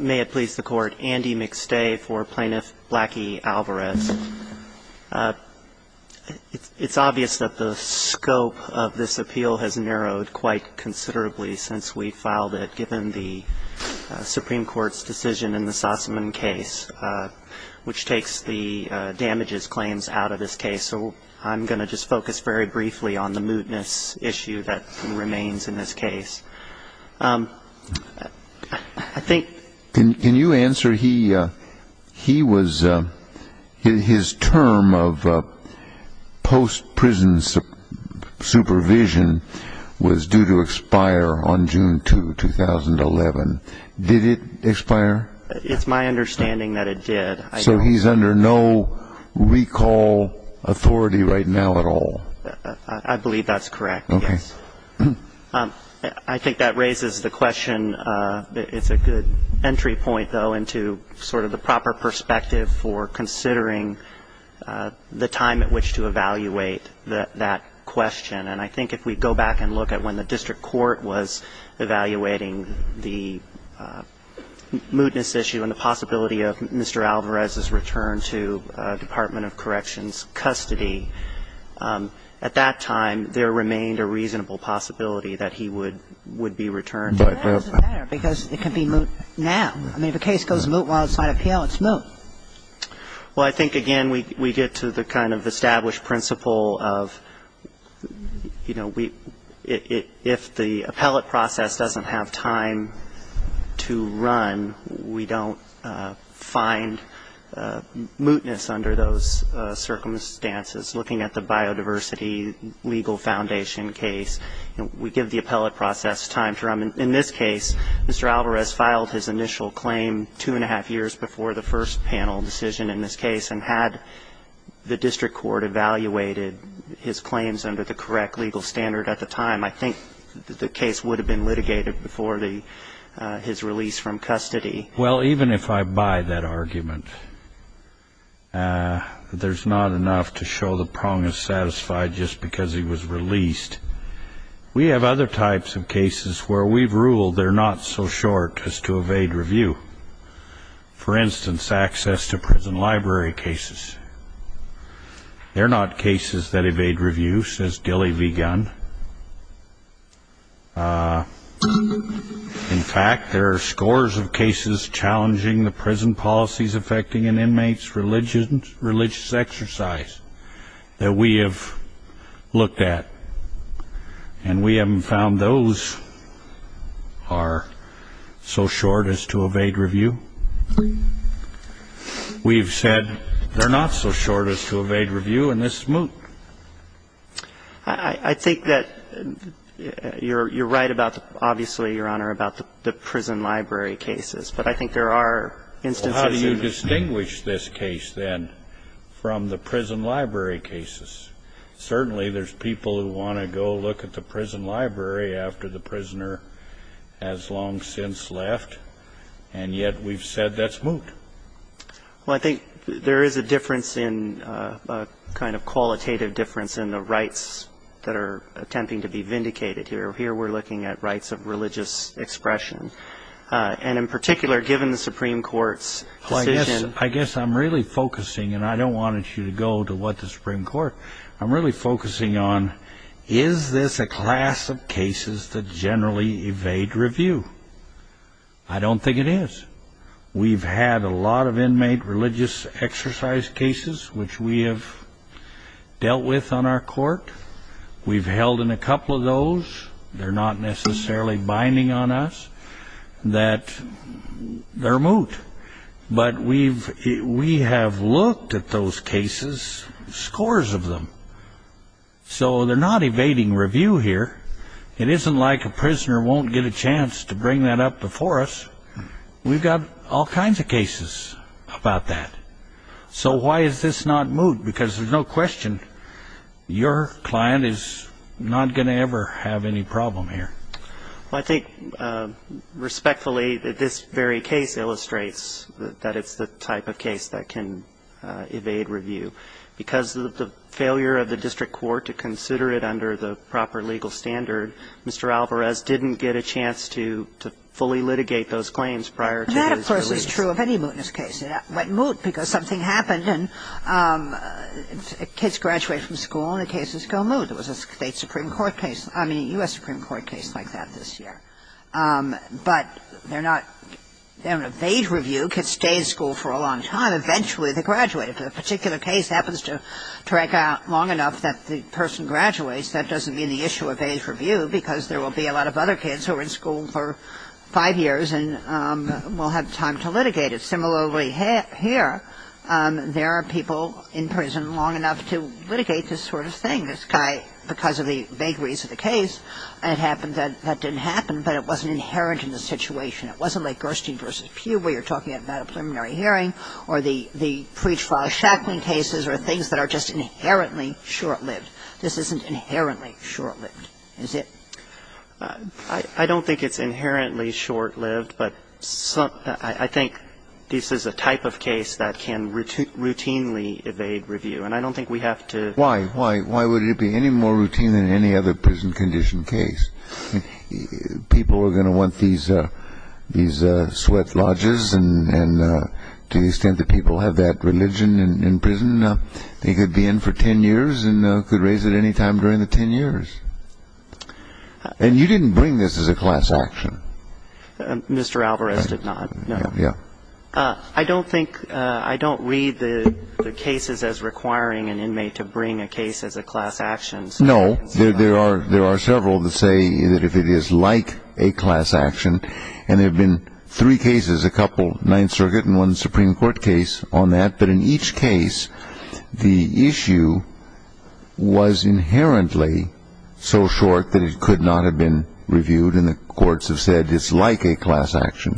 May it please the Court, Andy McStay for Plaintiff Blackie Alvarez. It's obvious that the scope of this appeal has narrowed quite considerably since we filed it, given the Supreme Court's decision in the Sussman case, which takes the damages claims out of this case. So I'm going to just focus very briefly on the mootness issue that remains in this case. I think... Can you answer, he was, his term of post-prison supervision was due to expire on June 2, 2011. Did it expire? It's my understanding that it did. So he's under no recall authority right now at all? I believe that's correct, yes. I think that raises the question, it's a good entry point, though, into sort of the proper perspective for considering the time at which to evaluate that question. And I think if we go back and look at when the district court was evaluating the mootness issue and the possibility of Mr. Alvarez's return to Department of Corrections custody, at that time there remained a reasonable possibility that he would be returned. Why does it matter? Because it can be moot now. I mean, if a case goes moot while it's on appeal, it's moot. Well, I think, again, we get to the kind of established principle of, you know, if the appellate process doesn't have time to run, we don't find mootness under those circumstances. Looking at the biodiversity legal foundation case, we give the appellate process time to run. In this case, Mr. Alvarez filed his initial claim two-and-a-half years before the first panel decision in this case, and had the district court evaluated his claims under the correct legal standard at the time, I think the case would have been litigated before his release from custody. Well, even if I buy that argument, there's not enough to show the prong is satisfied just because he was released. We have other types of cases where we've ruled they're not so short as to evade review. For instance, access to prison library cases. They're not cases that evade review, says Dilley v. Gunn. In fact, there are scores of cases challenging the prison policies affecting an inmate's religious exercise that we have looked at, and we haven't found those are so short as to evade review. We've said they're not so short as to evade review, and this is moot. I think that you're right about, obviously, Your Honor, about the prison library cases. But I think there are instances in the case. Well, how do you distinguish this case, then, from the prison library cases? Certainly there's people who want to go look at the prison library after the prisoner has long since left, and yet we've said that's moot. Well, I think there is a difference in a kind of qualitative difference in the rights that are attempting to be vindicated here. Here we're looking at rights of religious expression. And in particular, given the Supreme Court's decision. I guess I'm really focusing, and I don't want you to go to what the Supreme Court, I'm really focusing on is this a class of cases that generally evade review? I don't think it is. We've had a lot of inmate religious exercise cases which we have dealt with on our court. We've held in a couple of those. They're not necessarily binding on us that they're moot. But we have looked at those cases, scores of them. So they're not evading review here. It isn't like a prisoner won't get a chance to bring that up before us. We've got all kinds of cases about that. So why is this not moot? Because there's no question your client is not going to ever have any problem here. Well, I think respectfully, this very case illustrates that it's the type of case that can evade review. Because of the failure of the district court to consider it under the proper legal standard, Mr. Alvarez didn't get a chance to fully litigate those claims prior to his release. That, of course, is true of any mootness case. It might moot because something happened and kids graduate from school and the cases go moot. There was a state supreme court case, I mean U.S. Supreme Court case like that this year. But they're not, they don't evade review, kids stay in school for a long time, eventually they graduate. If a particular case happens to drag out long enough that the person graduates, that doesn't mean the issue evades review because there will be a lot of other kids who are in school for five years and will have time to litigate it. Similarly here, there are people in prison long enough to litigate this sort of thing. And so if you're talking about the case of Schacklin and this guy because of the vagaries of the case, and it happened that that didn't happen, but it wasn't inherent in the situation, it wasn't like Gerstein v. Pugh where you're talking about a preliminary hearing or the Preach-Fall-Schacklin cases or things that are just inherently short-lived. This isn't inherently short-lived, is it? I don't think it's inherently short-lived, but I think this is a type of case that can routinely evade review. And I don't think we have to... Why? Why would it be any more routine than any other prison condition case? People are going to want these sweat lodges and to the extent that people have that religion in prison, they could be in for ten years and could raise it any time during the ten years. And you didn't bring this as a class action. Mr. Alvarez did not. No. Yeah. I don't think, I don't read the cases as requiring an inmate to bring a case as a class action. No. There are several that say that if it is like a class action, and there have been three cases, a couple, Ninth Circuit and one Supreme Court case on that. But in each case, the issue was inherently so short that it could not have been reviewed and the courts have said it's like a class action.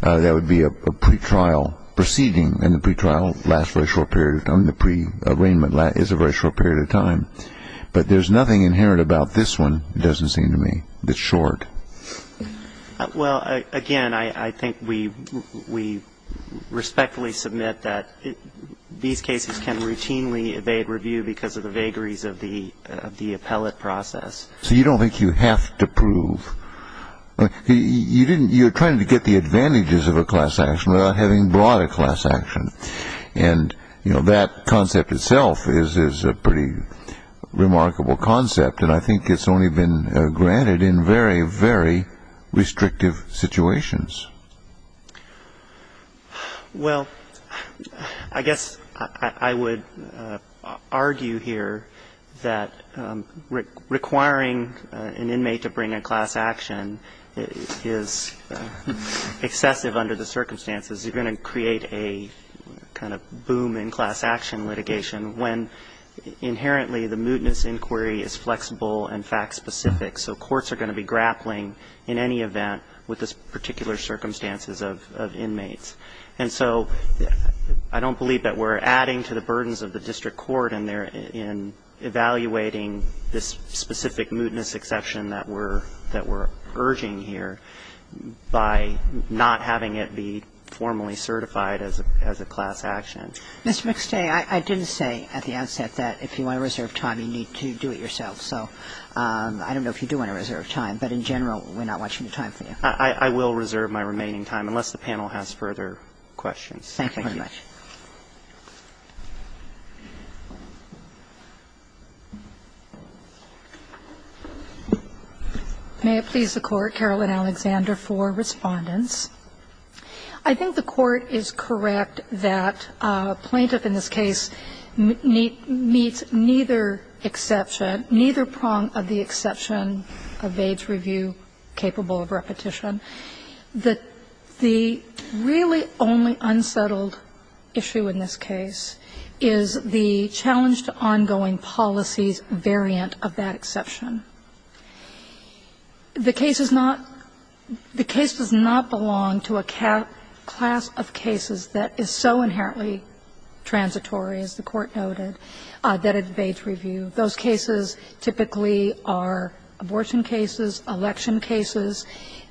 That would be a pretrial proceeding and the pretrial lasts for a short period of time. The pre-arraignment is a very short period of time. But there's nothing inherent about this one, it doesn't seem to me, that's short. Well, again, I think we respectfully submit that these cases can routinely evade review because of the vagaries of the appellate process. So you don't think you have to prove. You're trying to get the advantages of a class action without having brought a class action. And, you know, that concept itself is a pretty remarkable concept. And I think it's only been granted in very, very restrictive situations. Well, I guess I would argue here that requiring an inmate to bring a class action is excessive under the circumstances. You're going to create a kind of boom in class action litigation when inherently the mootness inquiry is flexible and fact-specific. So courts are going to be grappling in any event with the particular circumstances of inmates. And so I don't believe that we're adding to the burdens of the district court in evaluating this specific mootness exception that we're urging here by not having it be formally certified as a class action. Ms. McStay, I didn't say at the outset that if you want to reserve time, you need to do it yourself. So I don't know if you do want to reserve time. But in general, we're not watching the time for you. I will reserve my remaining time, unless the panel has further questions. Thank you very much. Thank you. May it please the Court, Carolyn Alexander, for Respondents. I think the Court is correct that a plaintiff in this case meets neither exception or neither prong of the exception of age review capable of repetition. The really only unsettled issue in this case is the challenge to ongoing policies variant of that exception. The case is not the case does not belong to a class of cases that is so inherently transitory, as the Court noted, that at age review. Those cases typically are abortion cases, election cases,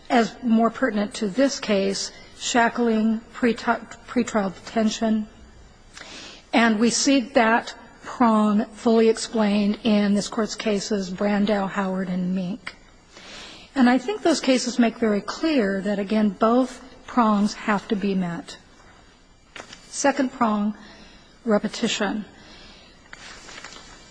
as more pertinent to this case, shackling, pretrial detention. And we see that prong fully explained in this Court's cases Brandau, Howard and Mink. And I think those cases make very clear that, again, both prongs have to be met. Second prong, repetition.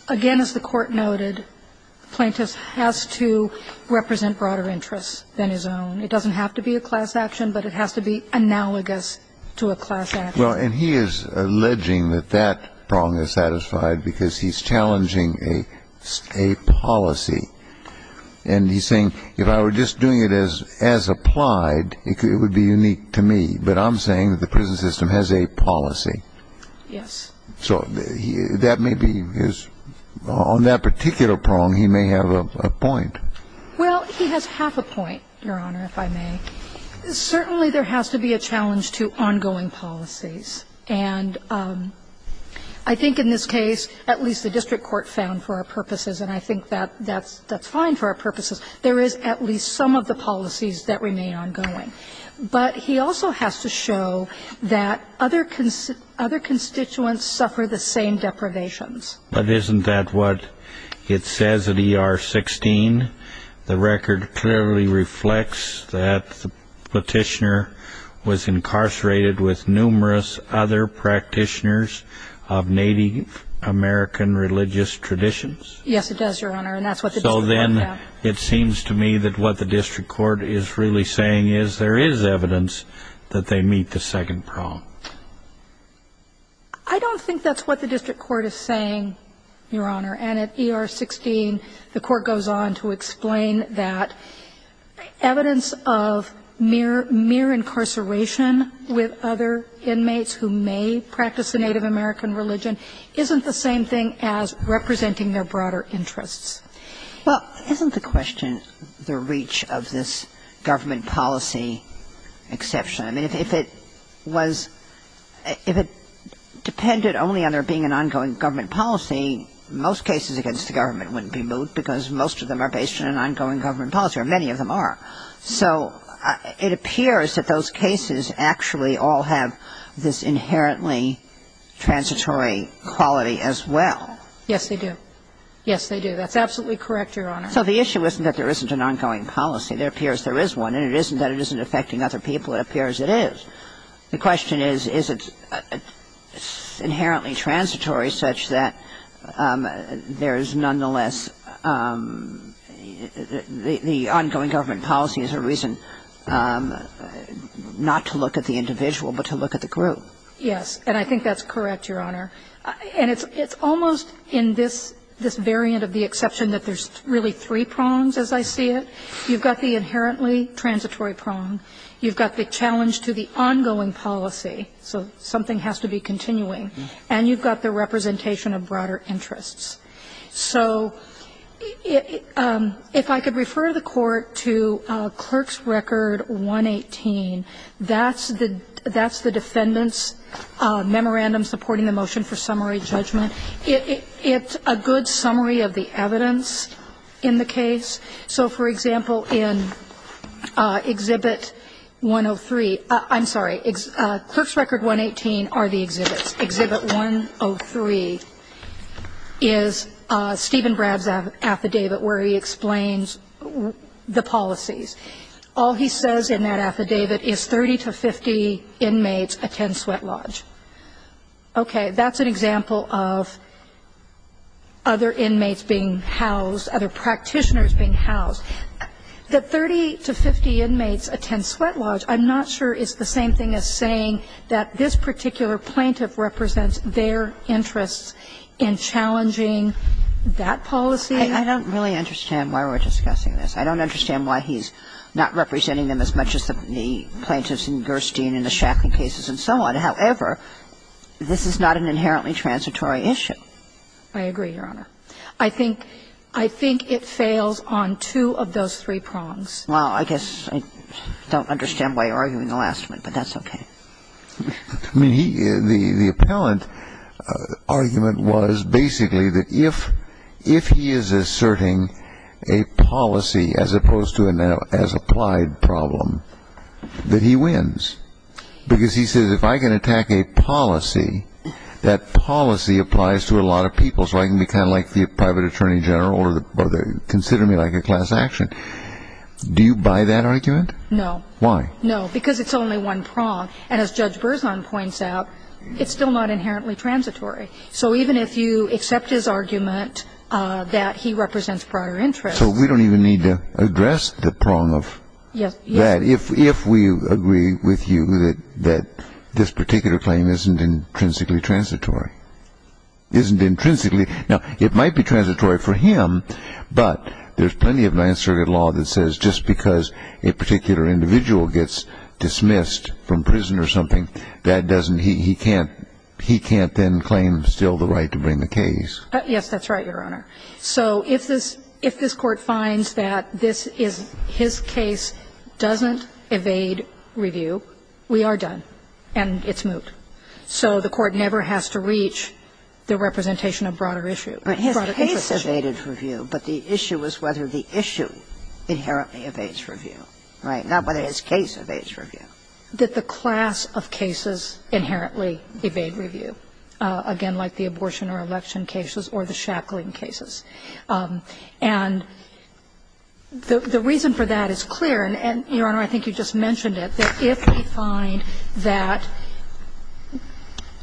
Again, as the Court noted, the plaintiff has to represent broader interests than his own. It doesn't have to be a class action, but it has to be analogous to a class action. Well, and he is alleging that that prong is satisfied because he's challenging a policy. And he's saying, if I were just doing it as applied, it would be unique to me. But I'm saying that the prison system has a policy. Yes. So that may be his – on that particular prong, he may have a point. Well, he has half a point, Your Honor, if I may. Certainly there has to be a challenge to ongoing policies. And I think in this case, at least the district court found for our purposes, and I think that's fine for our purposes, there is at least some of the policies that remain ongoing. But he also has to show that other constituents suffer the same deprivations. But isn't that what it says at ER 16? The record clearly reflects that the petitioner was incarcerated with numerous other practitioners of Native American religious traditions. Yes, it does, Your Honor, and that's what the district court found. So then it seems to me that what the district court is really saying is that there is evidence that they meet the second prong. I don't think that's what the district court is saying, Your Honor. And at ER 16, the court goes on to explain that evidence of mere – mere incarceration with other inmates who may practice a Native American religion isn't the same thing as representing their broader interests. Well, isn't the question the reach of this government policy exception? I mean, if it was – if it depended only on there being an ongoing government policy, most cases against the government wouldn't be moved because most of them are based on an ongoing government policy, or many of them are. So it appears that those cases actually all have this inherently transitory quality as well. Yes, they do. Yes, they do. That's absolutely correct, Your Honor. So the issue isn't that there isn't an ongoing policy. There appears there is one, and it isn't that it isn't affecting other people. It appears it is. The question is, is it inherently transitory such that there is nonetheless – the ongoing government policy is a reason not to look at the individual but to look at the group. Yes, and I think that's correct, Your Honor. And it's almost in this variant of the exception that there's really three prongs as I see it. You've got the inherently transitory prong. You've got the challenge to the ongoing policy. So something has to be continuing. And you've got the representation of broader interests. So if I could refer the Court to Clerk's Record 118, that's the defendant's summary judgment. It's a good summary of the evidence in the case. So, for example, in Exhibit 103 – I'm sorry. Clerk's Record 118 are the exhibits. Exhibit 103 is Stephen Bradd's affidavit where he explains the policies. All he says in that affidavit is 30 to 50 inmates attend sweat lodge. Okay, that's an example of other inmates being housed, other practitioners being housed. The 30 to 50 inmates attend sweat lodge, I'm not sure it's the same thing as saying that this particular plaintiff represents their interests in challenging that policy. I don't really understand why we're discussing this. I don't understand why he's not representing them as much as the plaintiffs in the case of Gershtine and the Shacklin cases and so on. However, this is not an inherently transitory issue. I agree, Your Honor. I think it fails on two of those three prongs. Well, I guess I don't understand why you're arguing the last one, but that's okay. I mean, the appellant argument was basically that if he is asserting a policy as opposed to an as-applied problem, that he wins. Because he says if I can attack a policy, that policy applies to a lot of people, so I can be kind of like the private attorney general or consider me like a class action. Do you buy that argument? No. Why? No, because it's only one prong. And as Judge Berzon points out, it's still not inherently transitory. So even if you accept his argument that he represents prior interests. So we don't even need to address the prong of that if we agree with you that this particular claim isn't intrinsically transitory. Isn't intrinsically. Now, it might be transitory for him, but there's plenty of Ninth Circuit law that says just because a particular individual gets dismissed from prison or something, that doesn't he can't then claim still the right to bring the case. Yes, that's right, Your Honor. So if this Court finds that this is his case doesn't evade review, we are done and it's moot. So the Court never has to reach the representation of broader issue. His case evaded review, but the issue is whether the issue inherently evades review. Right? Not whether his case evades review. That the class of cases inherently evade review. Again, like the abortion or election cases or the shackling cases. And the reason for that is clear, and, Your Honor, I think you just mentioned it, that if we find that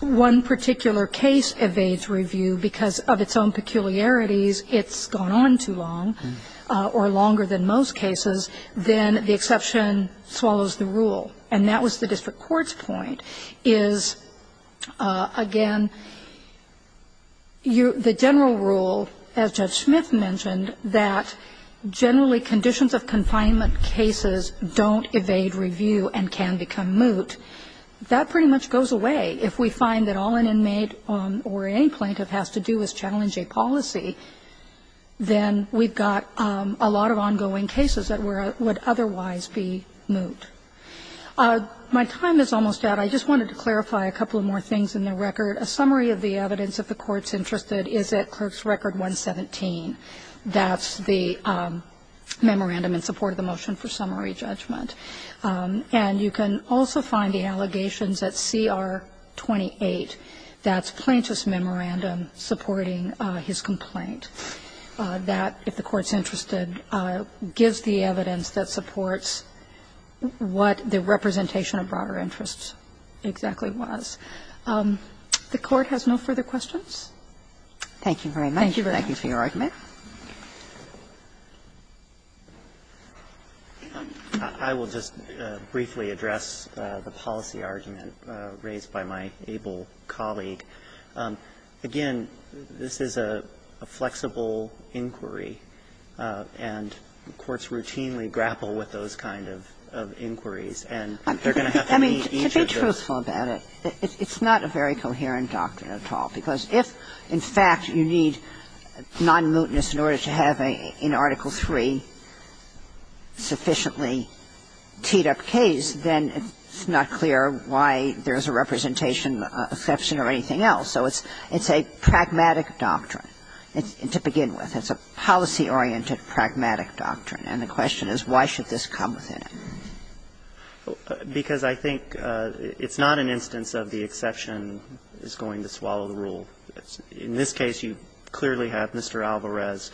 one particular case evades review because of its own peculiarities, it's gone on too long or longer than most cases, then the exception swallows the rule. And that was the district court's point, is, again, the general rule, as Judge Smith mentioned, that generally conditions of confinement cases don't evade review and can become moot, that pretty much goes away. If we find that all an inmate or any plaintiff has to do is challenge a policy, then we've got a lot of ongoing cases that would otherwise be moot. My time is almost out. I just wanted to clarify a couple of more things in the record. A summary of the evidence, if the Court's interested, is at Clerk's Record 117. That's the memorandum in support of the motion for summary judgment. And you can also find the allegations at CR 28. That's Plaintiff's memorandum supporting his complaint. That, if the Court's interested, gives the evidence that supports what the representation of broader interests exactly was. The Court has no further questions. Thank you very much. Thank you for your argument. I will just briefly address the policy argument raised by my able colleague. Again, this is a flexible inquiry, and courts routinely grapple with those kind of inquiries. And they're going to have to meet each other. To be truthful about it, it's not a very coherent doctrine at all, because if, in fact, you need non-mootness in order to have an Article III sufficiently teed up case, then it's not clear why there's a representation exception or anything else. So it's a pragmatic doctrine to begin with. It's a policy-oriented, pragmatic doctrine. And the question is, why should this come within it? Because I think it's not an instance of the exception is going to swallow the rule. In this case, you clearly have Mr. Alvarez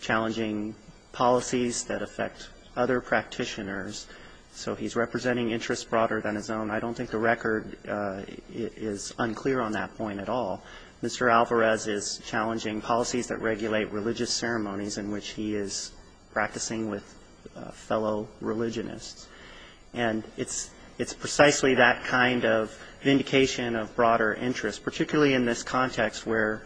challenging policies that affect other practitioners. So he's representing interests broader than his own. I don't think the record is unclear on that point at all. Mr. Alvarez is challenging policies that regulate religious ceremonies in which he is practicing with fellow religionists. And it's precisely that kind of vindication of broader interest, particularly in this context where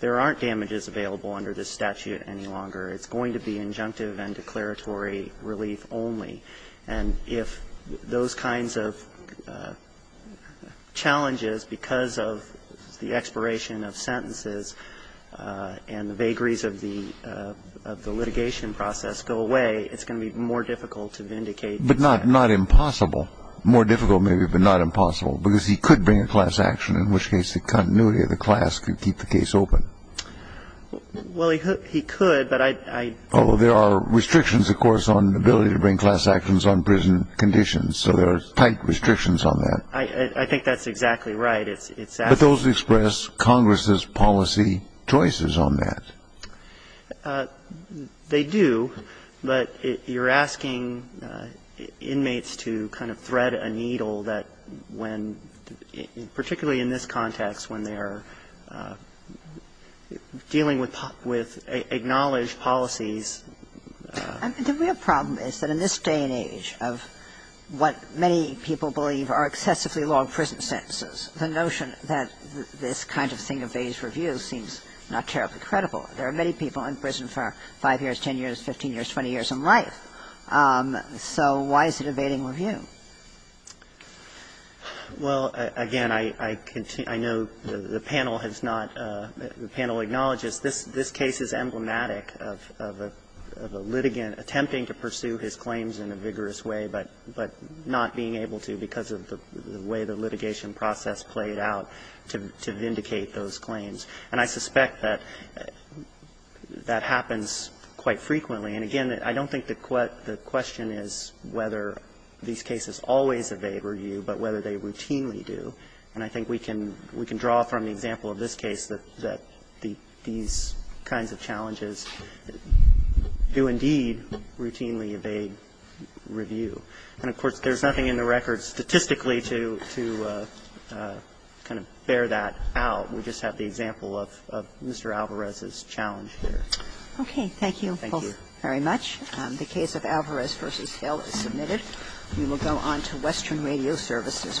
there aren't damages available under this statute any longer. It's going to be injunctive and declaratory relief only. And if those kinds of challenges, because of the expiration of sentences and the vagaries of the litigation process go away, it's going to be more difficult to vindicate the statute. But not impossible, more difficult, maybe, but not impossible, because he could bring a class action, in which case the continuity of the class could keep the case open. Well, he could, but I don't think he could. Well, there are restrictions, of course, on the ability to bring class actions on prison conditions. So there are tight restrictions on that. I think that's exactly right. But those express Congress's policy choices on that. They do. But you're asking inmates to kind of thread a needle that when, particularly in this context, when they're dealing with acknowledged policies. The real problem is that in this day and age of what many people believe are excessively long prison sentences, the notion that this kind of thing evades review seems not terribly credible. There are many people in prison for 5 years, 10 years, 15 years, 20 years in life. So why is it evading review? Well, again, I know the panel has not the panel acknowledges this case is emblematic of a litigant attempting to pursue his claims in a vigorous way, but not being able to because of the way the litigation process played out to vindicate those claims. And I suspect that that happens quite frequently. And, again, I don't think the question is whether these cases always evade review, but whether they routinely do. And I think we can draw from the example of this case that these kinds of challenges do indeed routinely evade review. And, of course, there's nothing in the record statistically to kind of bear that out. We just have the example of Mr. Alvarez's challenge here. Okay. Thank you. Thank you. Very much. The case of Alvarez v. Hill is submitted. We will go on to Western Radio Services v. Quest.